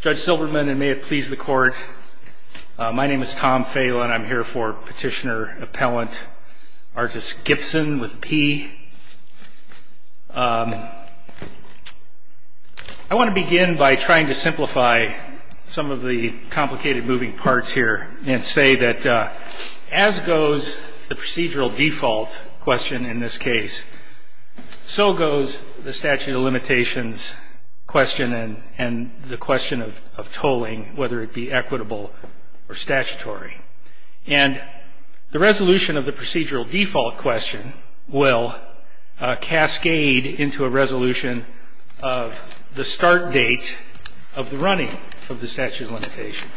Judge Silberman and may it please the court, my name is Tom Phail and I'm here for Petitioner Appellant Artis Gipson with a P. I want to begin by trying to simplify some of the complicated moving parts here and say that as goes the procedural default question in this case, so goes the statute of limitations question and the question of tolling, whether it be equitable or statutory. And the resolution of the procedural default question will cascade into a resolution of the start date of the running of the statute of limitations.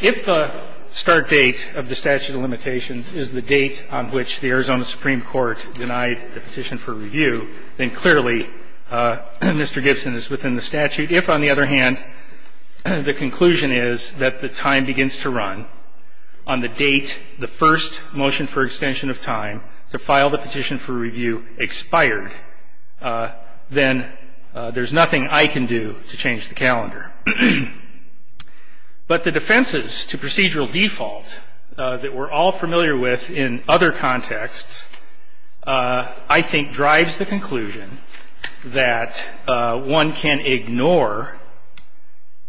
If the start date of the statute of limitations is the date on which the Arizona Supreme Court denied the petition for review, then clearly Mr. Gibson is within the statute. If, on the other hand, the conclusion is that the time begins to run on the date the first motion for extension of time to file the petition for review expired, then there's nothing I can do to change the calendar. But the defenses to procedural default that we're all familiar with in other contexts, I think, drives the conclusion that one can ignore,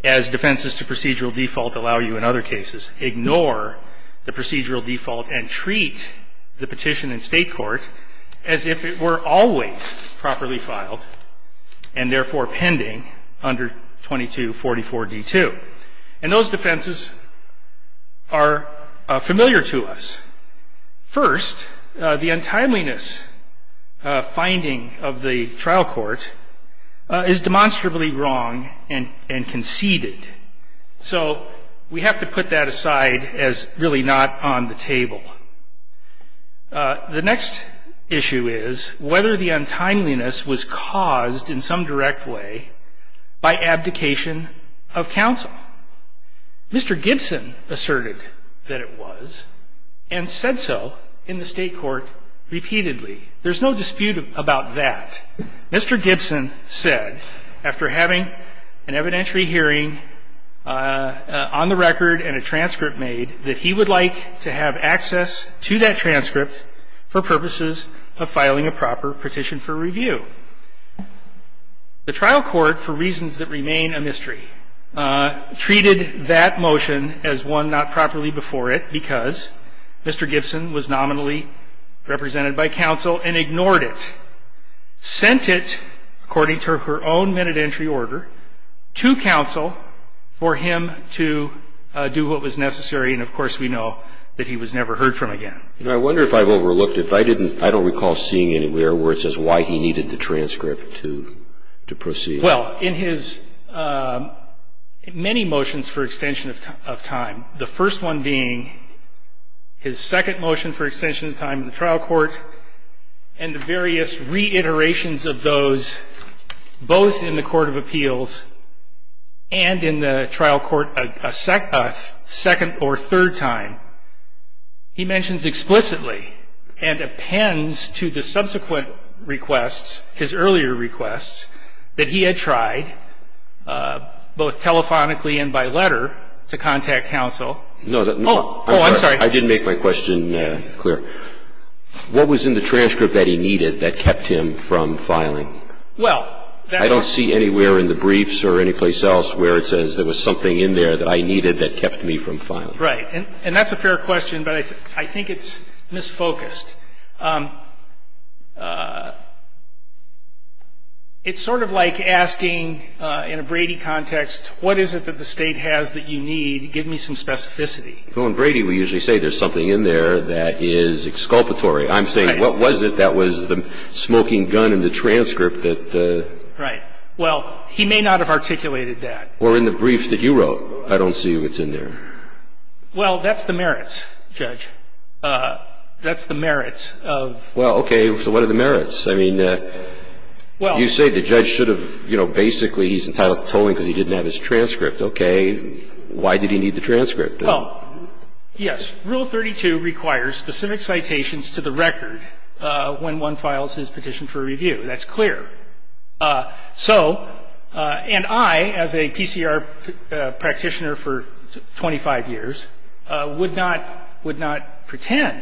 as defenses to procedural default allow you in other cases, ignore the procedural default and treat the petition in state court as if it were always properly filed and therefore pending under 2244D2. And those defenses are familiar to us. First, the untimeliness finding of the trial court is demonstrably wrong and conceded. So we have to put that aside as really not on the table. The next issue is whether the untimeliness was caused in some direct way by abdication of counsel. Mr. Gibson asserted that it was and said so in the state court repeatedly. There's no dispute about that. Mr. Gibson said, after having an evidentiary hearing on the record and a transcript made, that he would like to have access to that transcript for purposes of filing a proper petition for review. The trial court, for reasons that remain a mystery, treated that motion as one not properly before it because Mr. Gibson was nominally represented by counsel and ignored it. The trial court sent it, according to her own minute entry order, to counsel for him to do what was necessary. And, of course, we know that he was never heard from again. I wonder if I've overlooked it, but I don't recall seeing anywhere where it says why he needed the transcript to proceed. Well, in his many motions for extension of time, the first one being his second motion for extension of time in the trial court and the various reiterations of those, both in the court of appeals and in the trial court a second or third time, he mentions explicitly and appends to the subsequent requests, his earlier requests, that he had tried, both telephonically and by letter, to contact counsel. Oh, I'm sorry. I did make my question clear. What was in the transcript that he needed that kept him from filing? Well, that's why – I don't see anywhere in the briefs or anyplace else where it says there was something in there that I needed that kept me from filing. Right. And that's a fair question, but I think it's misfocused. It's sort of like asking, in a Brady context, what is it that the State has that you need? Give me some specificity. Well, in Brady, we usually say there's something in there that is exculpatory. I'm saying what was it that was the smoking gun in the transcript that – Right. Well, he may not have articulated that. Or in the brief that you wrote. I don't see what's in there. Well, that's the merits, Judge. That's the merits of – Well, okay. So what are the merits? I mean, you say the judge should have, you know, basically he's entitled to tolling because he didn't have his transcript. Okay. Why did he need the transcript? Well, yes, Rule 32 requires specific citations to the record when one files his petition for review. That's clear. So – and I, as a PCR practitioner for 25 years, would not – would not pretend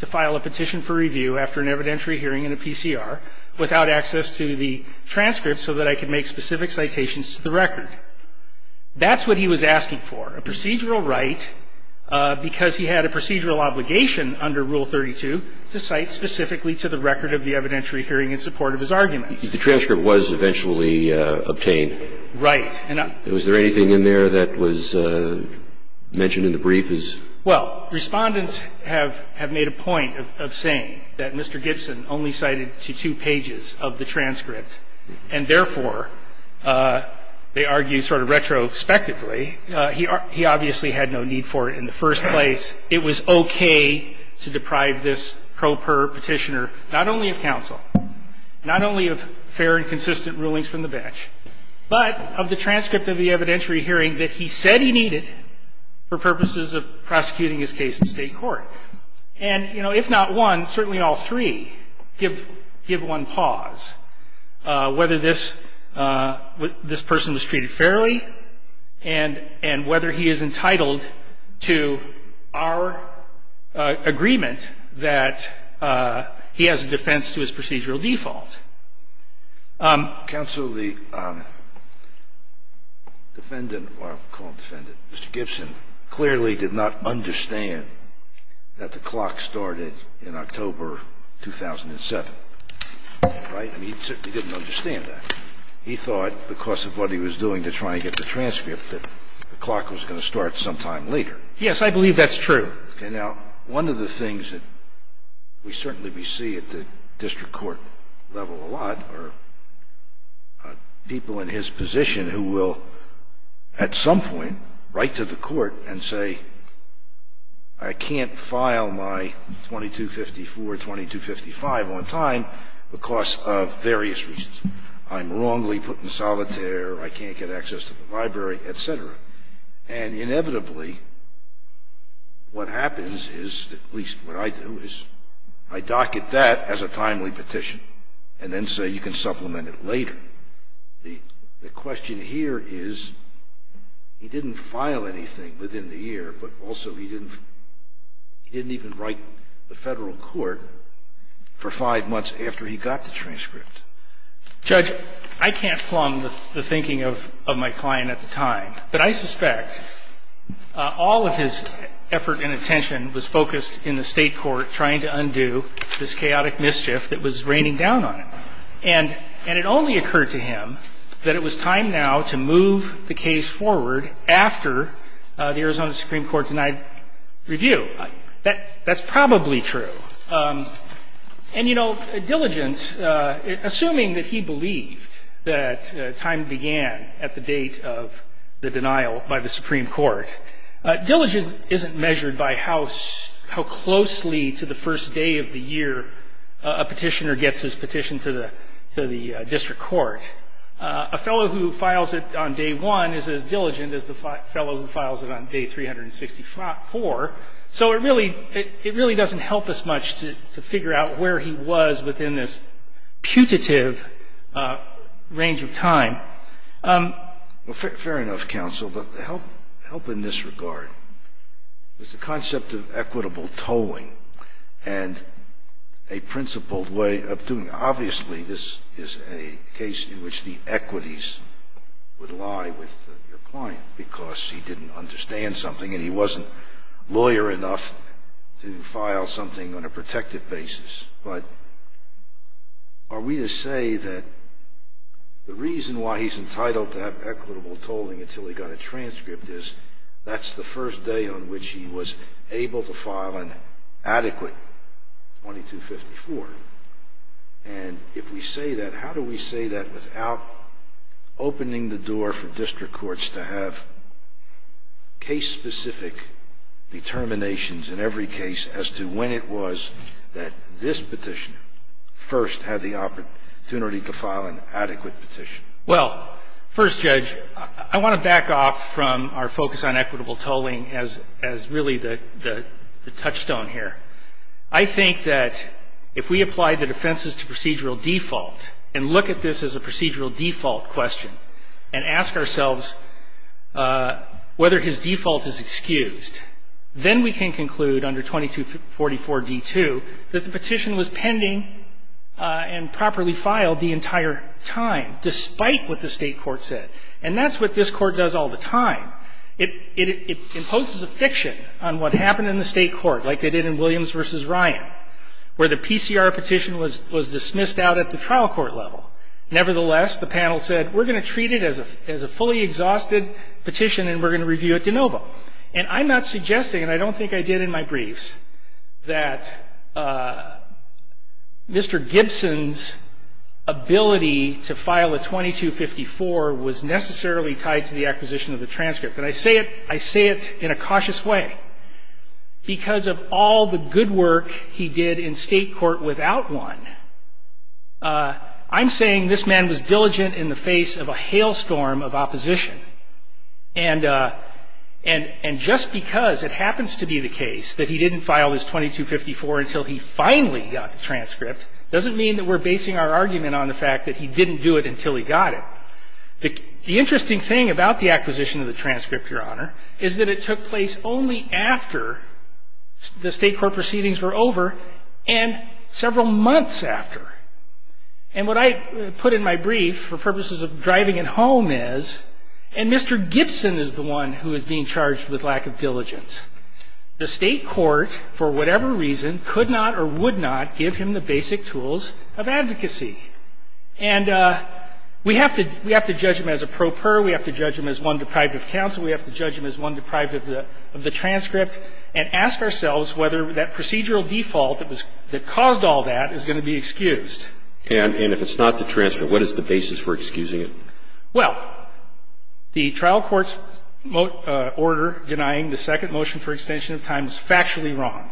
to file a petition for review after an evidentiary hearing in a PCR without access to the transcript so that I could make specific citations to the record. That's what he was asking for, a procedural right because he had a procedural obligation under Rule 32 to cite specifically to the record of the evidentiary hearing in support of his arguments. The transcript was eventually obtained. Right. And was there anything in there that was mentioned in the brief as – Well, Respondents have made a point of saying that Mr. Gibson only cited to two pages of the transcript, and therefore, they argue sort of retrospectively, he obviously had no need for it in the first place. It was okay to deprive this pro per petitioner not only of counsel, not only of fair and consistent rulings from the bench, but of the transcript of the evidentiary hearing that he said he needed for purposes of prosecuting his case in State court. And, you know, if not one, certainly all three give one pause, whether this person was treated fairly and whether he is entitled to our agreement that he has a defense to his procedural default. I'm not going to go into that. Counsel, the defendant, or I'll call him defendant, Mr. Gibson, clearly did not understand that the clock started in October 2007. Right? I mean, he certainly didn't understand that. He thought because of what he was doing to try and get the transcript that the clock was going to start sometime later. Yes, I believe that's true. Okay, now, one of the things that we certainly see at the district court level a lot are people in his position who will at some point write to the court and say, I can't file my 2254, 2255 on time because of various reasons. I'm wrongly put in solitaire. I can't get access to the library, et cetera. And, inevitably, what happens is, at least what I do, is I docket that as a timely petition and then say you can supplement it later. The question here is he didn't file anything within the year, but also he didn't even write the federal court for five months after he got the transcript. Judge, I can't plumb the thinking of my client at the time. But I suspect all of his effort and attention was focused in the State court trying to undo this chaotic mischief that was raining down on him. And it only occurred to him that it was time now to move the case forward after the Arizona Supreme Court denied review. That's probably true. And, you know, Diligent, assuming that he believed that time began at the date of the denial by the Supreme Court, Diligent isn't measured by how closely to the first day of the year a petitioner gets his petition to the district court. A fellow who files it on day one is as diligent as the fellow who files it on day 364. So it really doesn't help us much to figure out where he was within this putative range of time. Fair enough, counsel. But help in this regard is the concept of equitable tolling and a principled way of doing it. Obviously, this is a case in which the equities would lie with your client because he didn't understand something and he wasn't lawyer enough to file something on a protective basis. But are we to say that the reason why he's entitled to have equitable tolling until he got a transcript is that's the first day on which he was able to file an adequate 2254? And if we say that, how do we say that without opening the door for district courts to have case-specific determinations in every case as to when it was that this petitioner first had the opportunity to file an adequate petition? Well, first, Judge, I want to back off from our focus on equitable tolling as really the touchstone here. I think that if we apply the defenses to procedural default and look at this as a procedural default question and ask ourselves whether his default is excused, then we can conclude under 2244d2 that the petition was pending and properly filed the entire time, despite what the state court said. And that's what this court does all the time. It imposes a fiction on what happened in the state court, like they did in Williams v. Ryan, where the PCR petition was dismissed out at the trial court level. Nevertheless, the panel said, we're going to treat it as a fully exhausted petition and we're going to review it de novo. And I'm not suggesting, and I don't think I did in my briefs, that Mr. Gibson's ability to file a 2254 was necessarily tied to the acquisition of the transcript. And I say it in a cautious way. Because of all the good work he did in state court without one, I'm saying this man was diligent in the face of a hailstorm of opposition. And just because it happens to be the case that he didn't file his 2254 until he finally got the transcript doesn't mean that we're basing our argument on the fact that he didn't do it until he got it. The interesting thing about the acquisition of the transcript, Your Honor, is that it took place only after the state court proceedings were over and several months after. And what I put in my brief for purposes of driving it home is, and Mr. Gibson is the one who is being charged with lack of diligence, the state court, for whatever reason, could not or would not give him the basic tools of advocacy. And we have to judge him as a pro per, we have to judge him as one deprived of counsel, we have to judge him as one deprived of the transcript, and ask ourselves whether that procedural default that caused all that is going to be excused. And if it's not the transcript, what is the basis for excusing it? Well, the trial court's order denying the second motion for extension of time is factually wrong.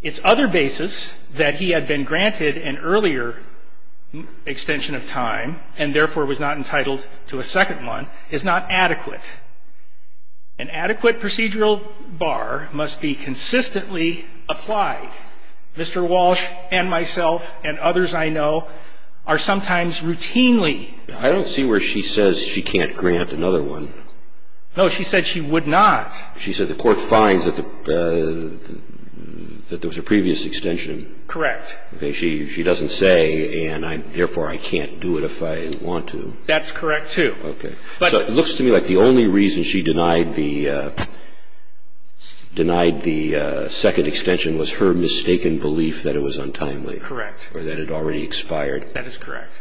Its other basis, that he had been granted an earlier extension of time and therefore was not entitled to a second one, is not adequate. An adequate procedural bar must be consistently applied. Mr. Walsh and myself and others I know are sometimes routinely. I don't see where she says she can't grant another one. No, she said she would not. She said the court finds that there was a previous extension. Correct. She doesn't say, and therefore I can't do it if I want to. That's correct, too. Okay. So it looks to me like the only reason she denied the second extension was her mistaken belief that it was untimely. Correct. Or that it already expired. That is correct.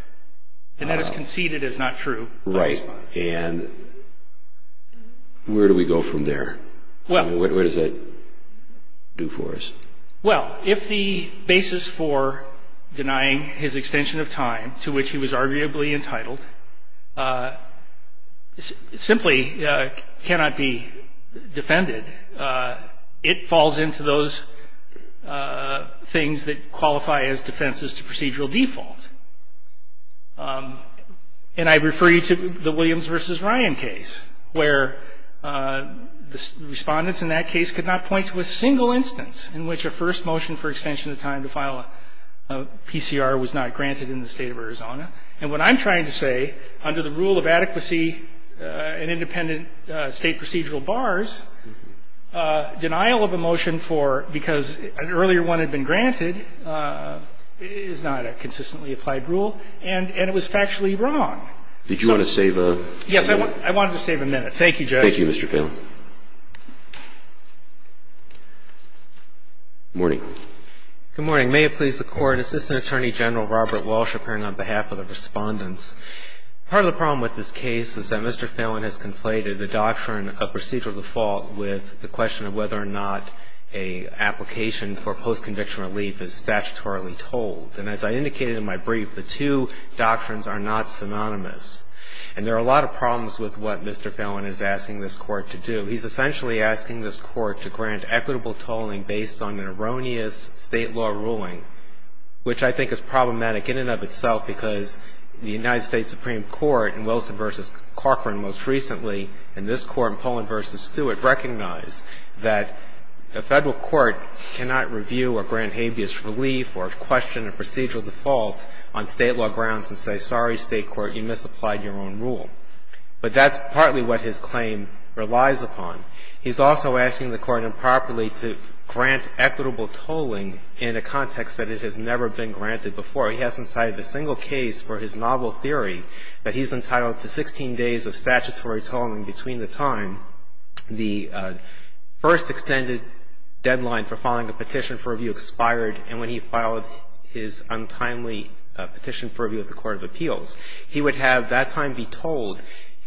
And that is conceded as not true. Right. And where do we go from there? What does that do for us? Well, if the basis for denying his extension of time to which he was arguably entitled simply cannot be defended, it falls into those things that qualify as defenses to procedural default. And I refer you to the Williams v. Ryan case, where the Respondents in that case could not point to a single instance in which a first motion for extension of time to file a PCR was not granted in the State of Arizona. And what I'm trying to say, under the rule of adequacy and independent State procedural bars, denial of a motion for because an earlier one had been granted is not a consistently applied rule, and it was factually wrong. Did you want to save a minute? Yes, I wanted to save a minute. Thank you, Judge. Thank you, Mr. Phelan. Good morning. Good morning. May it please the Court, Assistant Attorney General Robert Walsh appearing on behalf of the Respondents. Part of the problem with this case is that Mr. Phelan has conflated the doctrine of procedural default with the question of whether or not an application for post-conviction relief is statutorily told. And as I indicated in my brief, the two doctrines are not synonymous. And there are a lot of problems with what Mr. Phelan is asking this Court to do. He's essentially asking this Court to grant equitable tolling based on an erroneous State law ruling, which I think is problematic in and of itself because the United States Supreme Court in Wilson v. Cochran most recently and this Court in Pollin v. Stewart recognize that a Federal court cannot review or grant habeas relief or question of procedural default on State law grounds and say, sorry, State court, you misapplied your own rule. But that's partly what his claim relies upon. He's also asking the Court improperly to grant equitable tolling in a context that it has never been granted before. He hasn't cited a single case for his novel theory that he's entitled to 16 days of statutory tolling between the time the first extended deadline for filing a petition for review expired and when he filed his untimely petition for review at the Court of Appeals. He would have that time be tolled,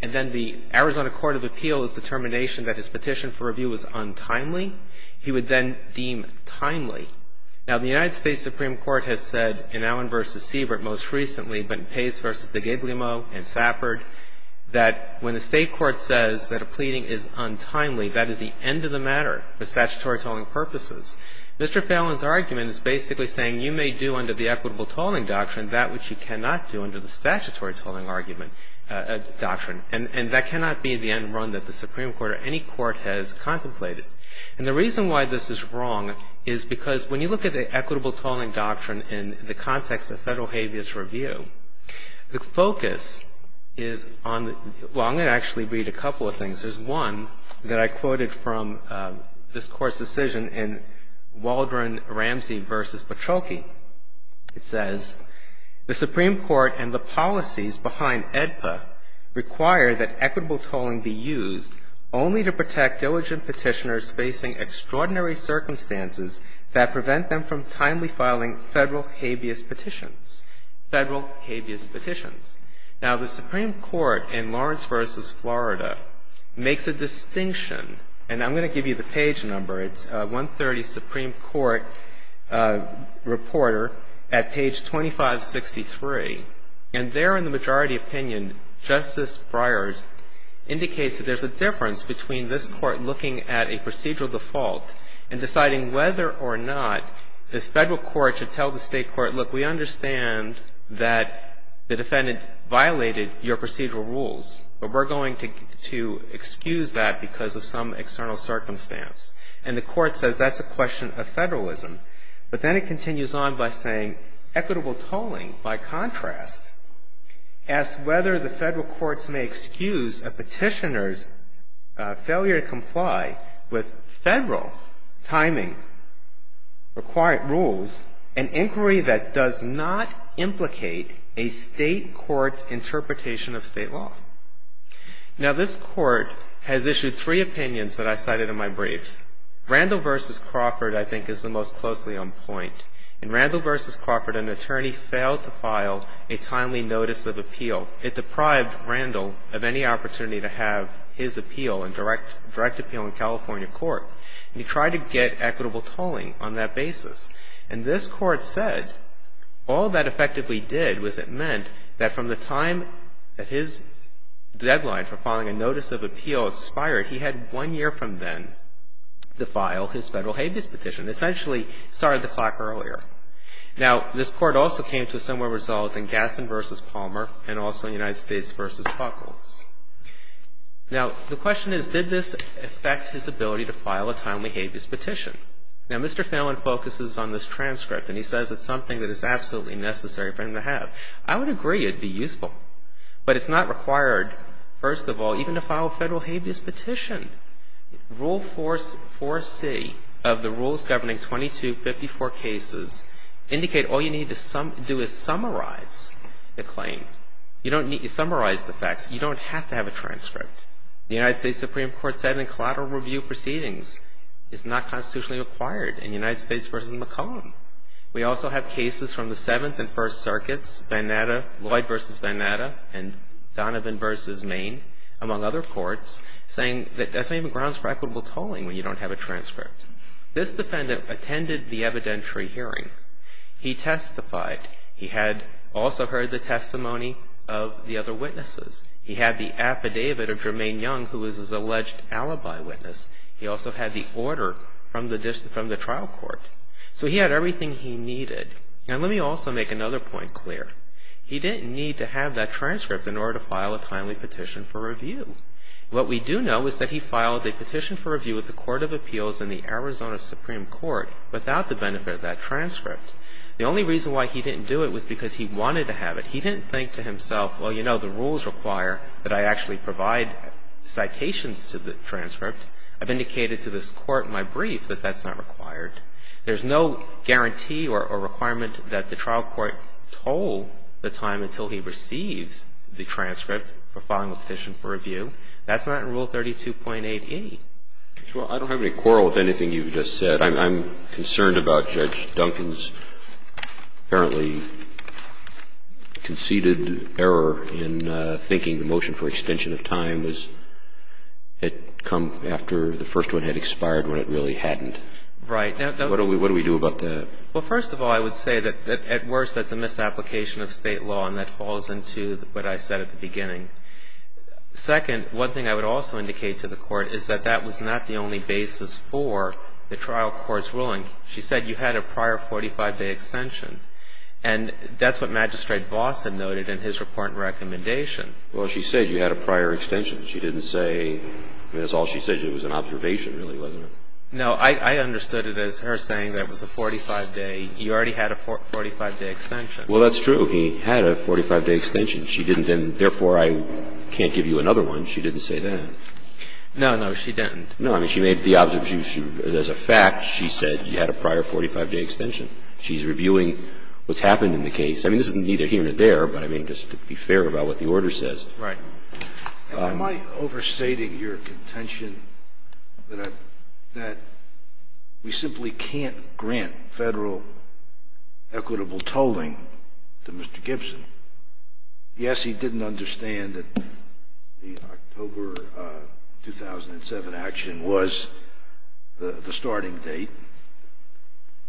and then the Arizona Court of Appeals' determination that his petition for review was untimely, he would then deem timely. Now, the United States Supreme Court has said in Allen v. Siebert most recently, but in Pace v. de Guglielmo and Safford, that when the State court says that a pleading is untimely, that is the end of the matter for statutory tolling purposes. Mr. Fallon's argument is basically saying you may do under the equitable tolling doctrine that which you cannot do under the statutory tolling argument, doctrine. And that cannot be the end run that the Supreme Court or any court has contemplated. And the reason why this is wrong is because when you look at the equitable tolling doctrine in the context of Federal habeas review, the focus is on the – well, I'm going to actually read a couple of things. There's one that I quoted from this Court's decision in Waldron Ramsey v. Paciolke. It says, The Supreme Court and the policies behind AEDPA require that equitable tolling be used only to protect diligent Petitioners facing extraordinary circumstances that prevent them from timely filing Federal habeas petitions. Federal habeas petitions. Now, the Supreme Court in Lawrence v. Florida makes a distinction, and I'm going to give you the page number. It's 130 Supreme Court Reporter at page 2563. And there in the majority opinion, Justice Breyer indicates that there's a difference between this Court looking at a procedural default and deciding whether or not this Federal court should tell the State court, look, we understand that the defendant violated your procedural rules, but we're going to excuse that because of some external circumstance. And the Court says that's a question of Federalism. But then it continues on by saying equitable tolling, by contrast, asks whether the Federal courts may excuse a Petitioner's failure to comply with a State court's interpretation of State law. Now, this Court has issued three opinions that I cited in my brief. Randall v. Crawford, I think, is the most closely on point. In Randall v. Crawford, an attorney failed to file a timely notice of appeal. It deprived Randall of any opportunity to have his appeal, a direct appeal in California court. And he tried to get equitable tolling on that basis. And this Court said all that effectively did was it meant that from the time that his deadline for filing a notice of appeal expired, he had one year from then to file his Federal habeas petition, essentially started the clock earlier. Now, this Court also came to a similar result in Gaston v. Palmer and also in United States v. Buckles. Now, the question is, did this affect his ability to file a timely habeas petition? Now, Mr. Fallon focuses on this transcript, and he says it's something that is absolutely necessary for him to have. I would agree it would be useful. But it's not required, first of all, even to file a Federal habeas petition. Rule 4C of the rules governing 2254 cases indicate all you need to do is summarize the claim. You don't need to summarize the facts. You don't have to have a transcript. The United States Supreme Court said in collateral review proceedings it's not constitutionally required in United States v. McCollum. We also have cases from the Seventh and First Circuits, Lloyd v. Vanatta and Donovan v. Maine, among other courts, saying that doesn't even grounds for equitable tolling when you don't have a transcript. This defendant attended the evidentiary hearing. He testified. He had also heard the testimony of the other witnesses. He had the affidavit of Jermaine Young, who was his alleged alibi witness. He also had the order from the trial court. So he had everything he needed. Now let me also make another point clear. He didn't need to have that transcript in order to file a timely petition for review. What we do know is that he filed a petition for review with the Court of Appeals and the Arizona Supreme Court without the benefit of that transcript. The only reason why he didn't do it was because he wanted to have it. He didn't think to himself, well, you know, the rules require that I actually provide citations to the transcript. I've indicated to this Court in my brief that that's not required. There's no guarantee or requirement that the trial court toll the time until he receives the transcript for filing a petition for review. That's not in Rule 32.8e. Well, I don't have any quarrel with anything you've just said. I'm concerned about Judge Duncan's apparently conceded error in thinking the motion for extension of time was it come after the first one had expired when it really hadn't. Right. What do we do about that? Well, first of all, I would say that at worst that's a misapplication of State law, and that falls into what I said at the beginning. Second, one thing I would also indicate to the Court is that that was not the only basis for the trial court's ruling. She said you had a prior 45-day extension. And that's what Magistrate Vos had noted in his report and recommendation. Well, she said you had a prior extension. She didn't say, I mean, that's all she said. It was an observation, really, wasn't it? No, I understood it as her saying that it was a 45-day. You already had a 45-day extension. Well, that's true. He had a 45-day extension. She didn't then, therefore, I can't give you another one. She didn't say that. No, no, she didn't. No, I mean, she made the observation. As a fact, she said you had a prior 45-day extension. She's reviewing what's happened in the case. I mean, this is neither here nor there, but, I mean, just to be fair about what the order says. Right. Am I overstating your contention that we simply can't grant Federal equitable tolling to Mr. Gibson? Yes, he didn't understand that the October 2007 action was the starting date.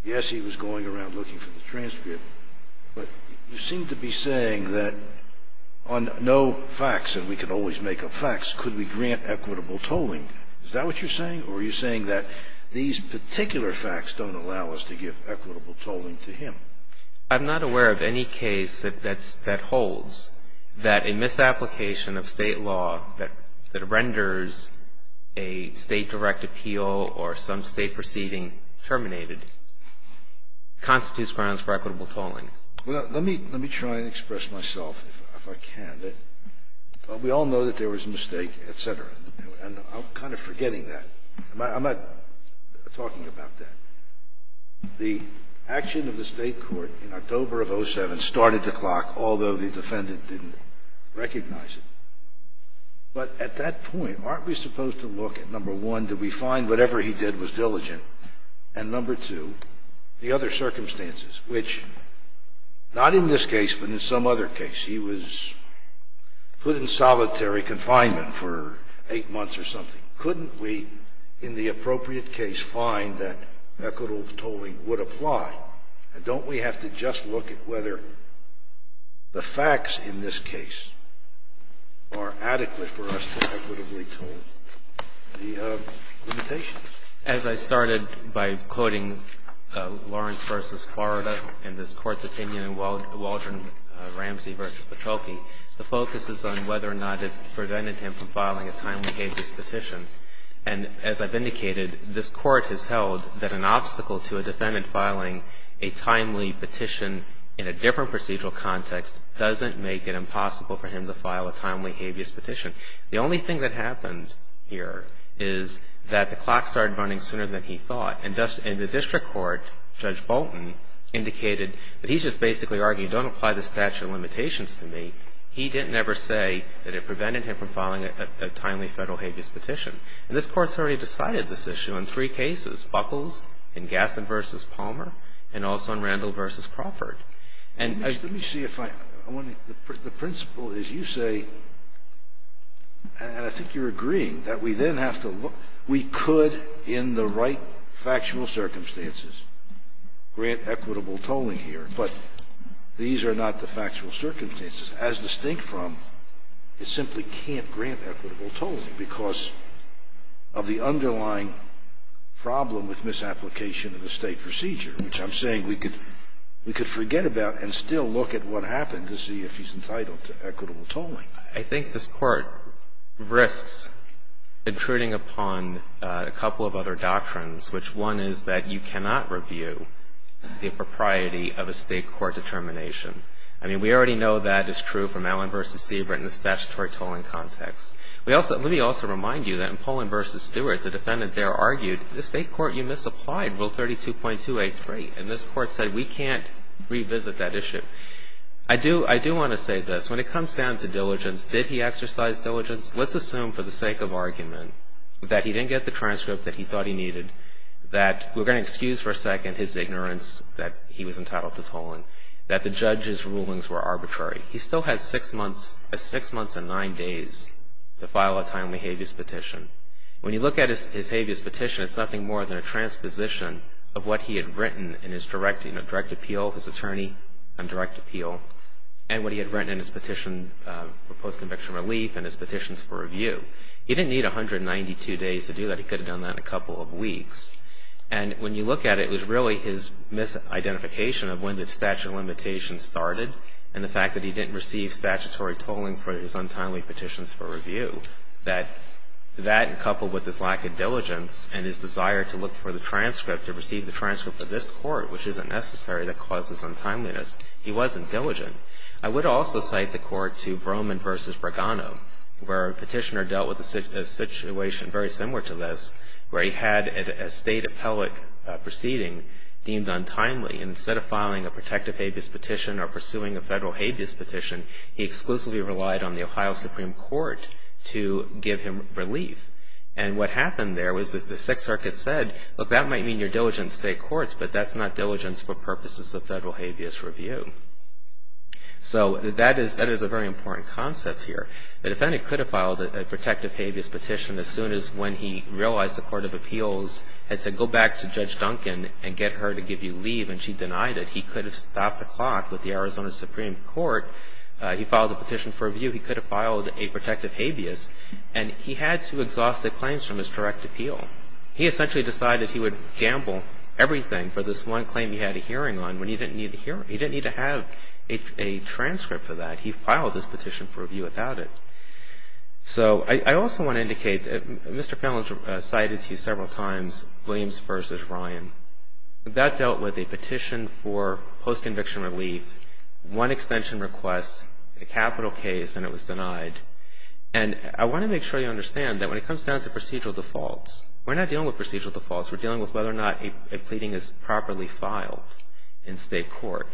Yes, he was going around looking for the transcript, but you seem to be saying that on no facts, and we can always make up facts, could we grant equitable tolling. Is that what you're saying, or are you saying that these particular facts don't allow us to give equitable tolling to him? I'm not aware of any case that holds that a misapplication of State law that renders a State-directed appeal or some State proceeding terminated constitutes grounds for equitable tolling. Well, let me try and express myself, if I can. We all know that there was a mistake, et cetera, and I'm kind of forgetting that. I'm not talking about that. The action of the State court in October of 2007 started the clock, although the defendant didn't recognize it. But at that point, aren't we supposed to look at, number one, did we find whatever he did was diligent, and number two, the other circumstances, which not in this case, but in some other case, he was put in solitary confinement for eight months or something. Couldn't we, in the appropriate case, find that equitable tolling would apply? And don't we have to just look at whether the facts in this case are adequate for us to equitably toll the limitations? As I started by quoting Lawrence v. Florida and this Court's opinion in Waldron Ramsey v. Patoki, the focus is on whether or not it prevented him from filing a timely habeas petition. And as I've indicated, this Court has held that an obstacle to a defendant filing a timely petition in a different procedural context doesn't make it impossible for him to file a timely habeas petition. The only thing that happened here is that the clock started running sooner than he thought. And the district court, Judge Bolton, indicated that he's just basically arguing, don't apply the statute of limitations to me. He didn't ever say that it prevented him from filing a timely federal habeas petition. And this Court's already decided this issue in three cases, Buckles, in Gaston v. Palmer, and also in Randall v. Crawford. And I — Let me see if I — I want to — the principle is you say, and I think you're agreeing, that we then have to look — we could, in the right factual circumstances, grant equitable tolling here. But these are not the factual circumstances. As distinct from, it simply can't grant equitable tolling because of the underlying problem with misapplication of the State procedure, which I'm saying we could — we could forget about and still look at what happened to see if he's entitled to equitable tolling. I think this Court risks intruding upon a couple of other doctrines, which one is that you cannot review the propriety of a State court determination. I mean, we already know that is true from Allen v. Siebert in the statutory tolling context. We also — let me also remind you that in Pollin v. Stewart, the defendant there argued, the State court, you misapplied Rule 32.283. And this Court said, we can't revisit that issue. I do — I do want to say this. When it comes down to diligence, did he exercise diligence? Let's assume, for the sake of argument, that he didn't get the transcript that he thought he needed, that we're going to excuse for a second his ignorance that he was entitled to tolling, that the judge's rulings were arbitrary. He still had six months — six months and nine days to file a timely habeas petition. When you look at his habeas petition, it's nothing more than a transposition of what he had written in his direct — you know, direct appeal, his attorney on direct appeal, and what he had written in his petition for post-conviction relief and his petitions for review. He didn't need 192 days to do that. He could have done that in a couple of weeks. And when you look at it, it was really his misidentification of when the statute of limitations started and the fact that he didn't receive statutory tolling for his untimely petitions for review, that that, coupled with his lack of diligence and his desire to look for the transcript, to receive the transcript for this Court, which isn't necessary, that causes untimeliness. He wasn't diligent. I would also cite the court to Broman v. Bragano, where a petitioner dealt with a situation very similar to this, where he had a state appellate proceeding deemed untimely. And instead of filing a protective habeas petition or pursuing a federal habeas petition, he exclusively relied on the Ohio Supreme Court to give him relief. And what happened there was the Sixth Circuit said, look, that might mean you're diligent in state courts, but that's not diligence for purposes of federal habeas review. So that is a very important concept here. The defendant could have filed a protective habeas petition as soon as when he realized the Court of Appeals had said, go back to Judge Duncan and get her to give you leave, and she denied it. He could have stopped the clock with the Arizona Supreme Court. He filed the petition for review. He could have filed a protective habeas. And he had to exhaust the claims from his direct appeal. He essentially decided he would gamble everything for this one claim he had a hearing on when he didn't need a hearing. He didn't need to have a transcript for that. He filed this petition for review without it. So I also want to indicate that Mr. Fellin cited to you several times Williams v. Ryan. That dealt with a petition for post-conviction relief, one extension request, a capital case, and it was denied. And I want to make sure you understand that when it comes down to procedural defaults, we're not dealing with procedural defaults. We're dealing with whether or not a pleading is properly filed in state court.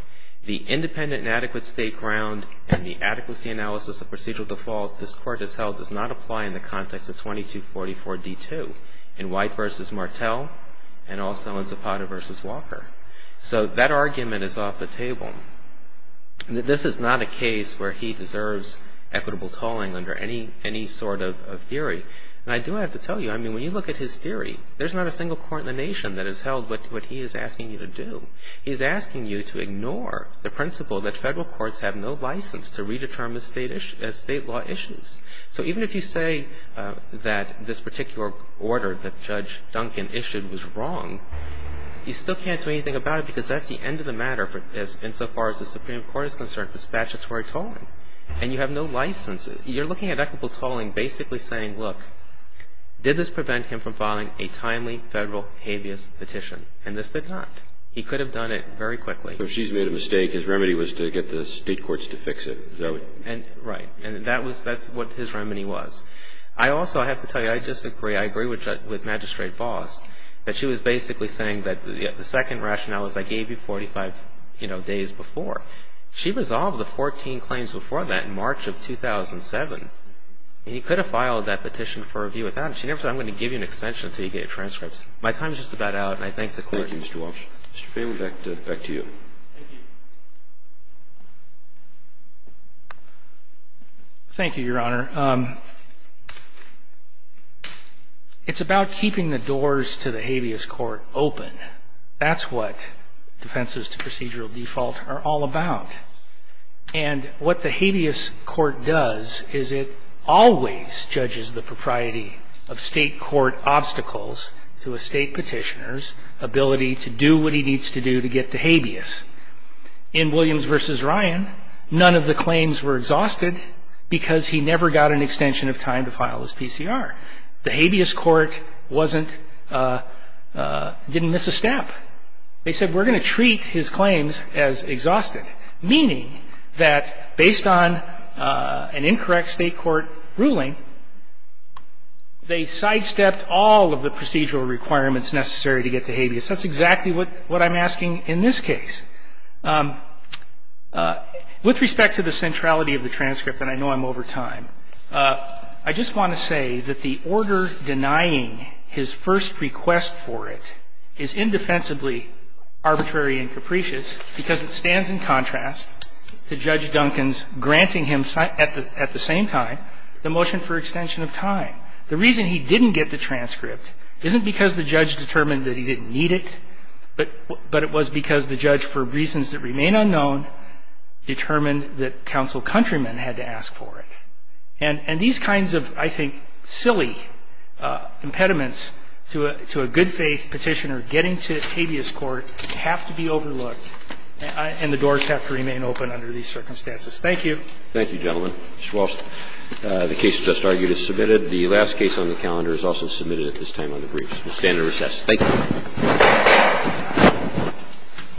The independent and adequate state ground and the adequacy analysis of procedural default this court has held does not apply in the context of 2244D2 in White v. Martel and also in Zapata v. Walker. So that argument is off the table. This is not a case where he deserves equitable tolling under any sort of theory. And I do have to tell you, I mean, when you look at his theory, there's not a single court in the nation that has held what he is asking you to do. He is asking you to ignore the principle that Federal courts have no license to redetermine state law issues. So even if you say that this particular order that Judge Duncan issued was wrong, you still can't do anything about it because that's the end of the matter insofar as the Supreme Court is concerned for statutory tolling. And you have no license. You're looking at equitable tolling basically saying, look, did this prevent him from filing a timely Federal habeas petition? And this did not. He could have done it very quickly. So if she's made a mistake, his remedy was to get the state courts to fix it. Is that right? Right. And that's what his remedy was. I also have to tell you, I disagree. I agree with Magistrate Vos that she was basically saying that the second rationale is I gave you 45 days before. She resolved the 14 claims before that in March of 2007. He could have filed that petition for review without it. She never said, I'm going to give you an extension until you get your transcripts. My time is just about out, and I thank the Court. Thank you, Mr. Walsh. Mr. Feigin, back to you. Thank you. Thank you, Your Honor. It's about keeping the doors to the habeas court open. That's what defenses to procedural default are all about. And what the habeas court does is it always judges the propriety of State court obstacles to a State petitioner's ability to do what he needs to do to get to habeas. In Williams v. Ryan, none of the claims were exhausted because he never got an extension of time to file his PCR. The habeas court didn't miss a step. They said, we're going to treat his claims as exhausted, meaning that based on an incorrect State court ruling, they sidestepped all of the procedural requirements necessary to get to habeas. That's exactly what I'm asking in this case. With respect to the centrality of the transcript, and I know I'm over time, I just want to say that the order denying his first request for it is indefensibly arbitrary and capricious because it stands in contrast to Judge Duncan's granting him at the same time the motion for extension of time. The reason he didn't get the transcript isn't because the judge determined that he didn't need it, but it was because the judge, for reasons that remain unknown, determined that Counsel Countryman had to ask for it. And these kinds of, I think, silly impediments to a good-faith petitioner getting to habeas court have to be overlooked and the doors have to remain open under these circumstances. Thank you. Thank you, gentlemen. Mr. Walsh, the case just argued is submitted. The last case on the calendar is also submitted at this time on the briefs. We'll stand at recess. Thank you.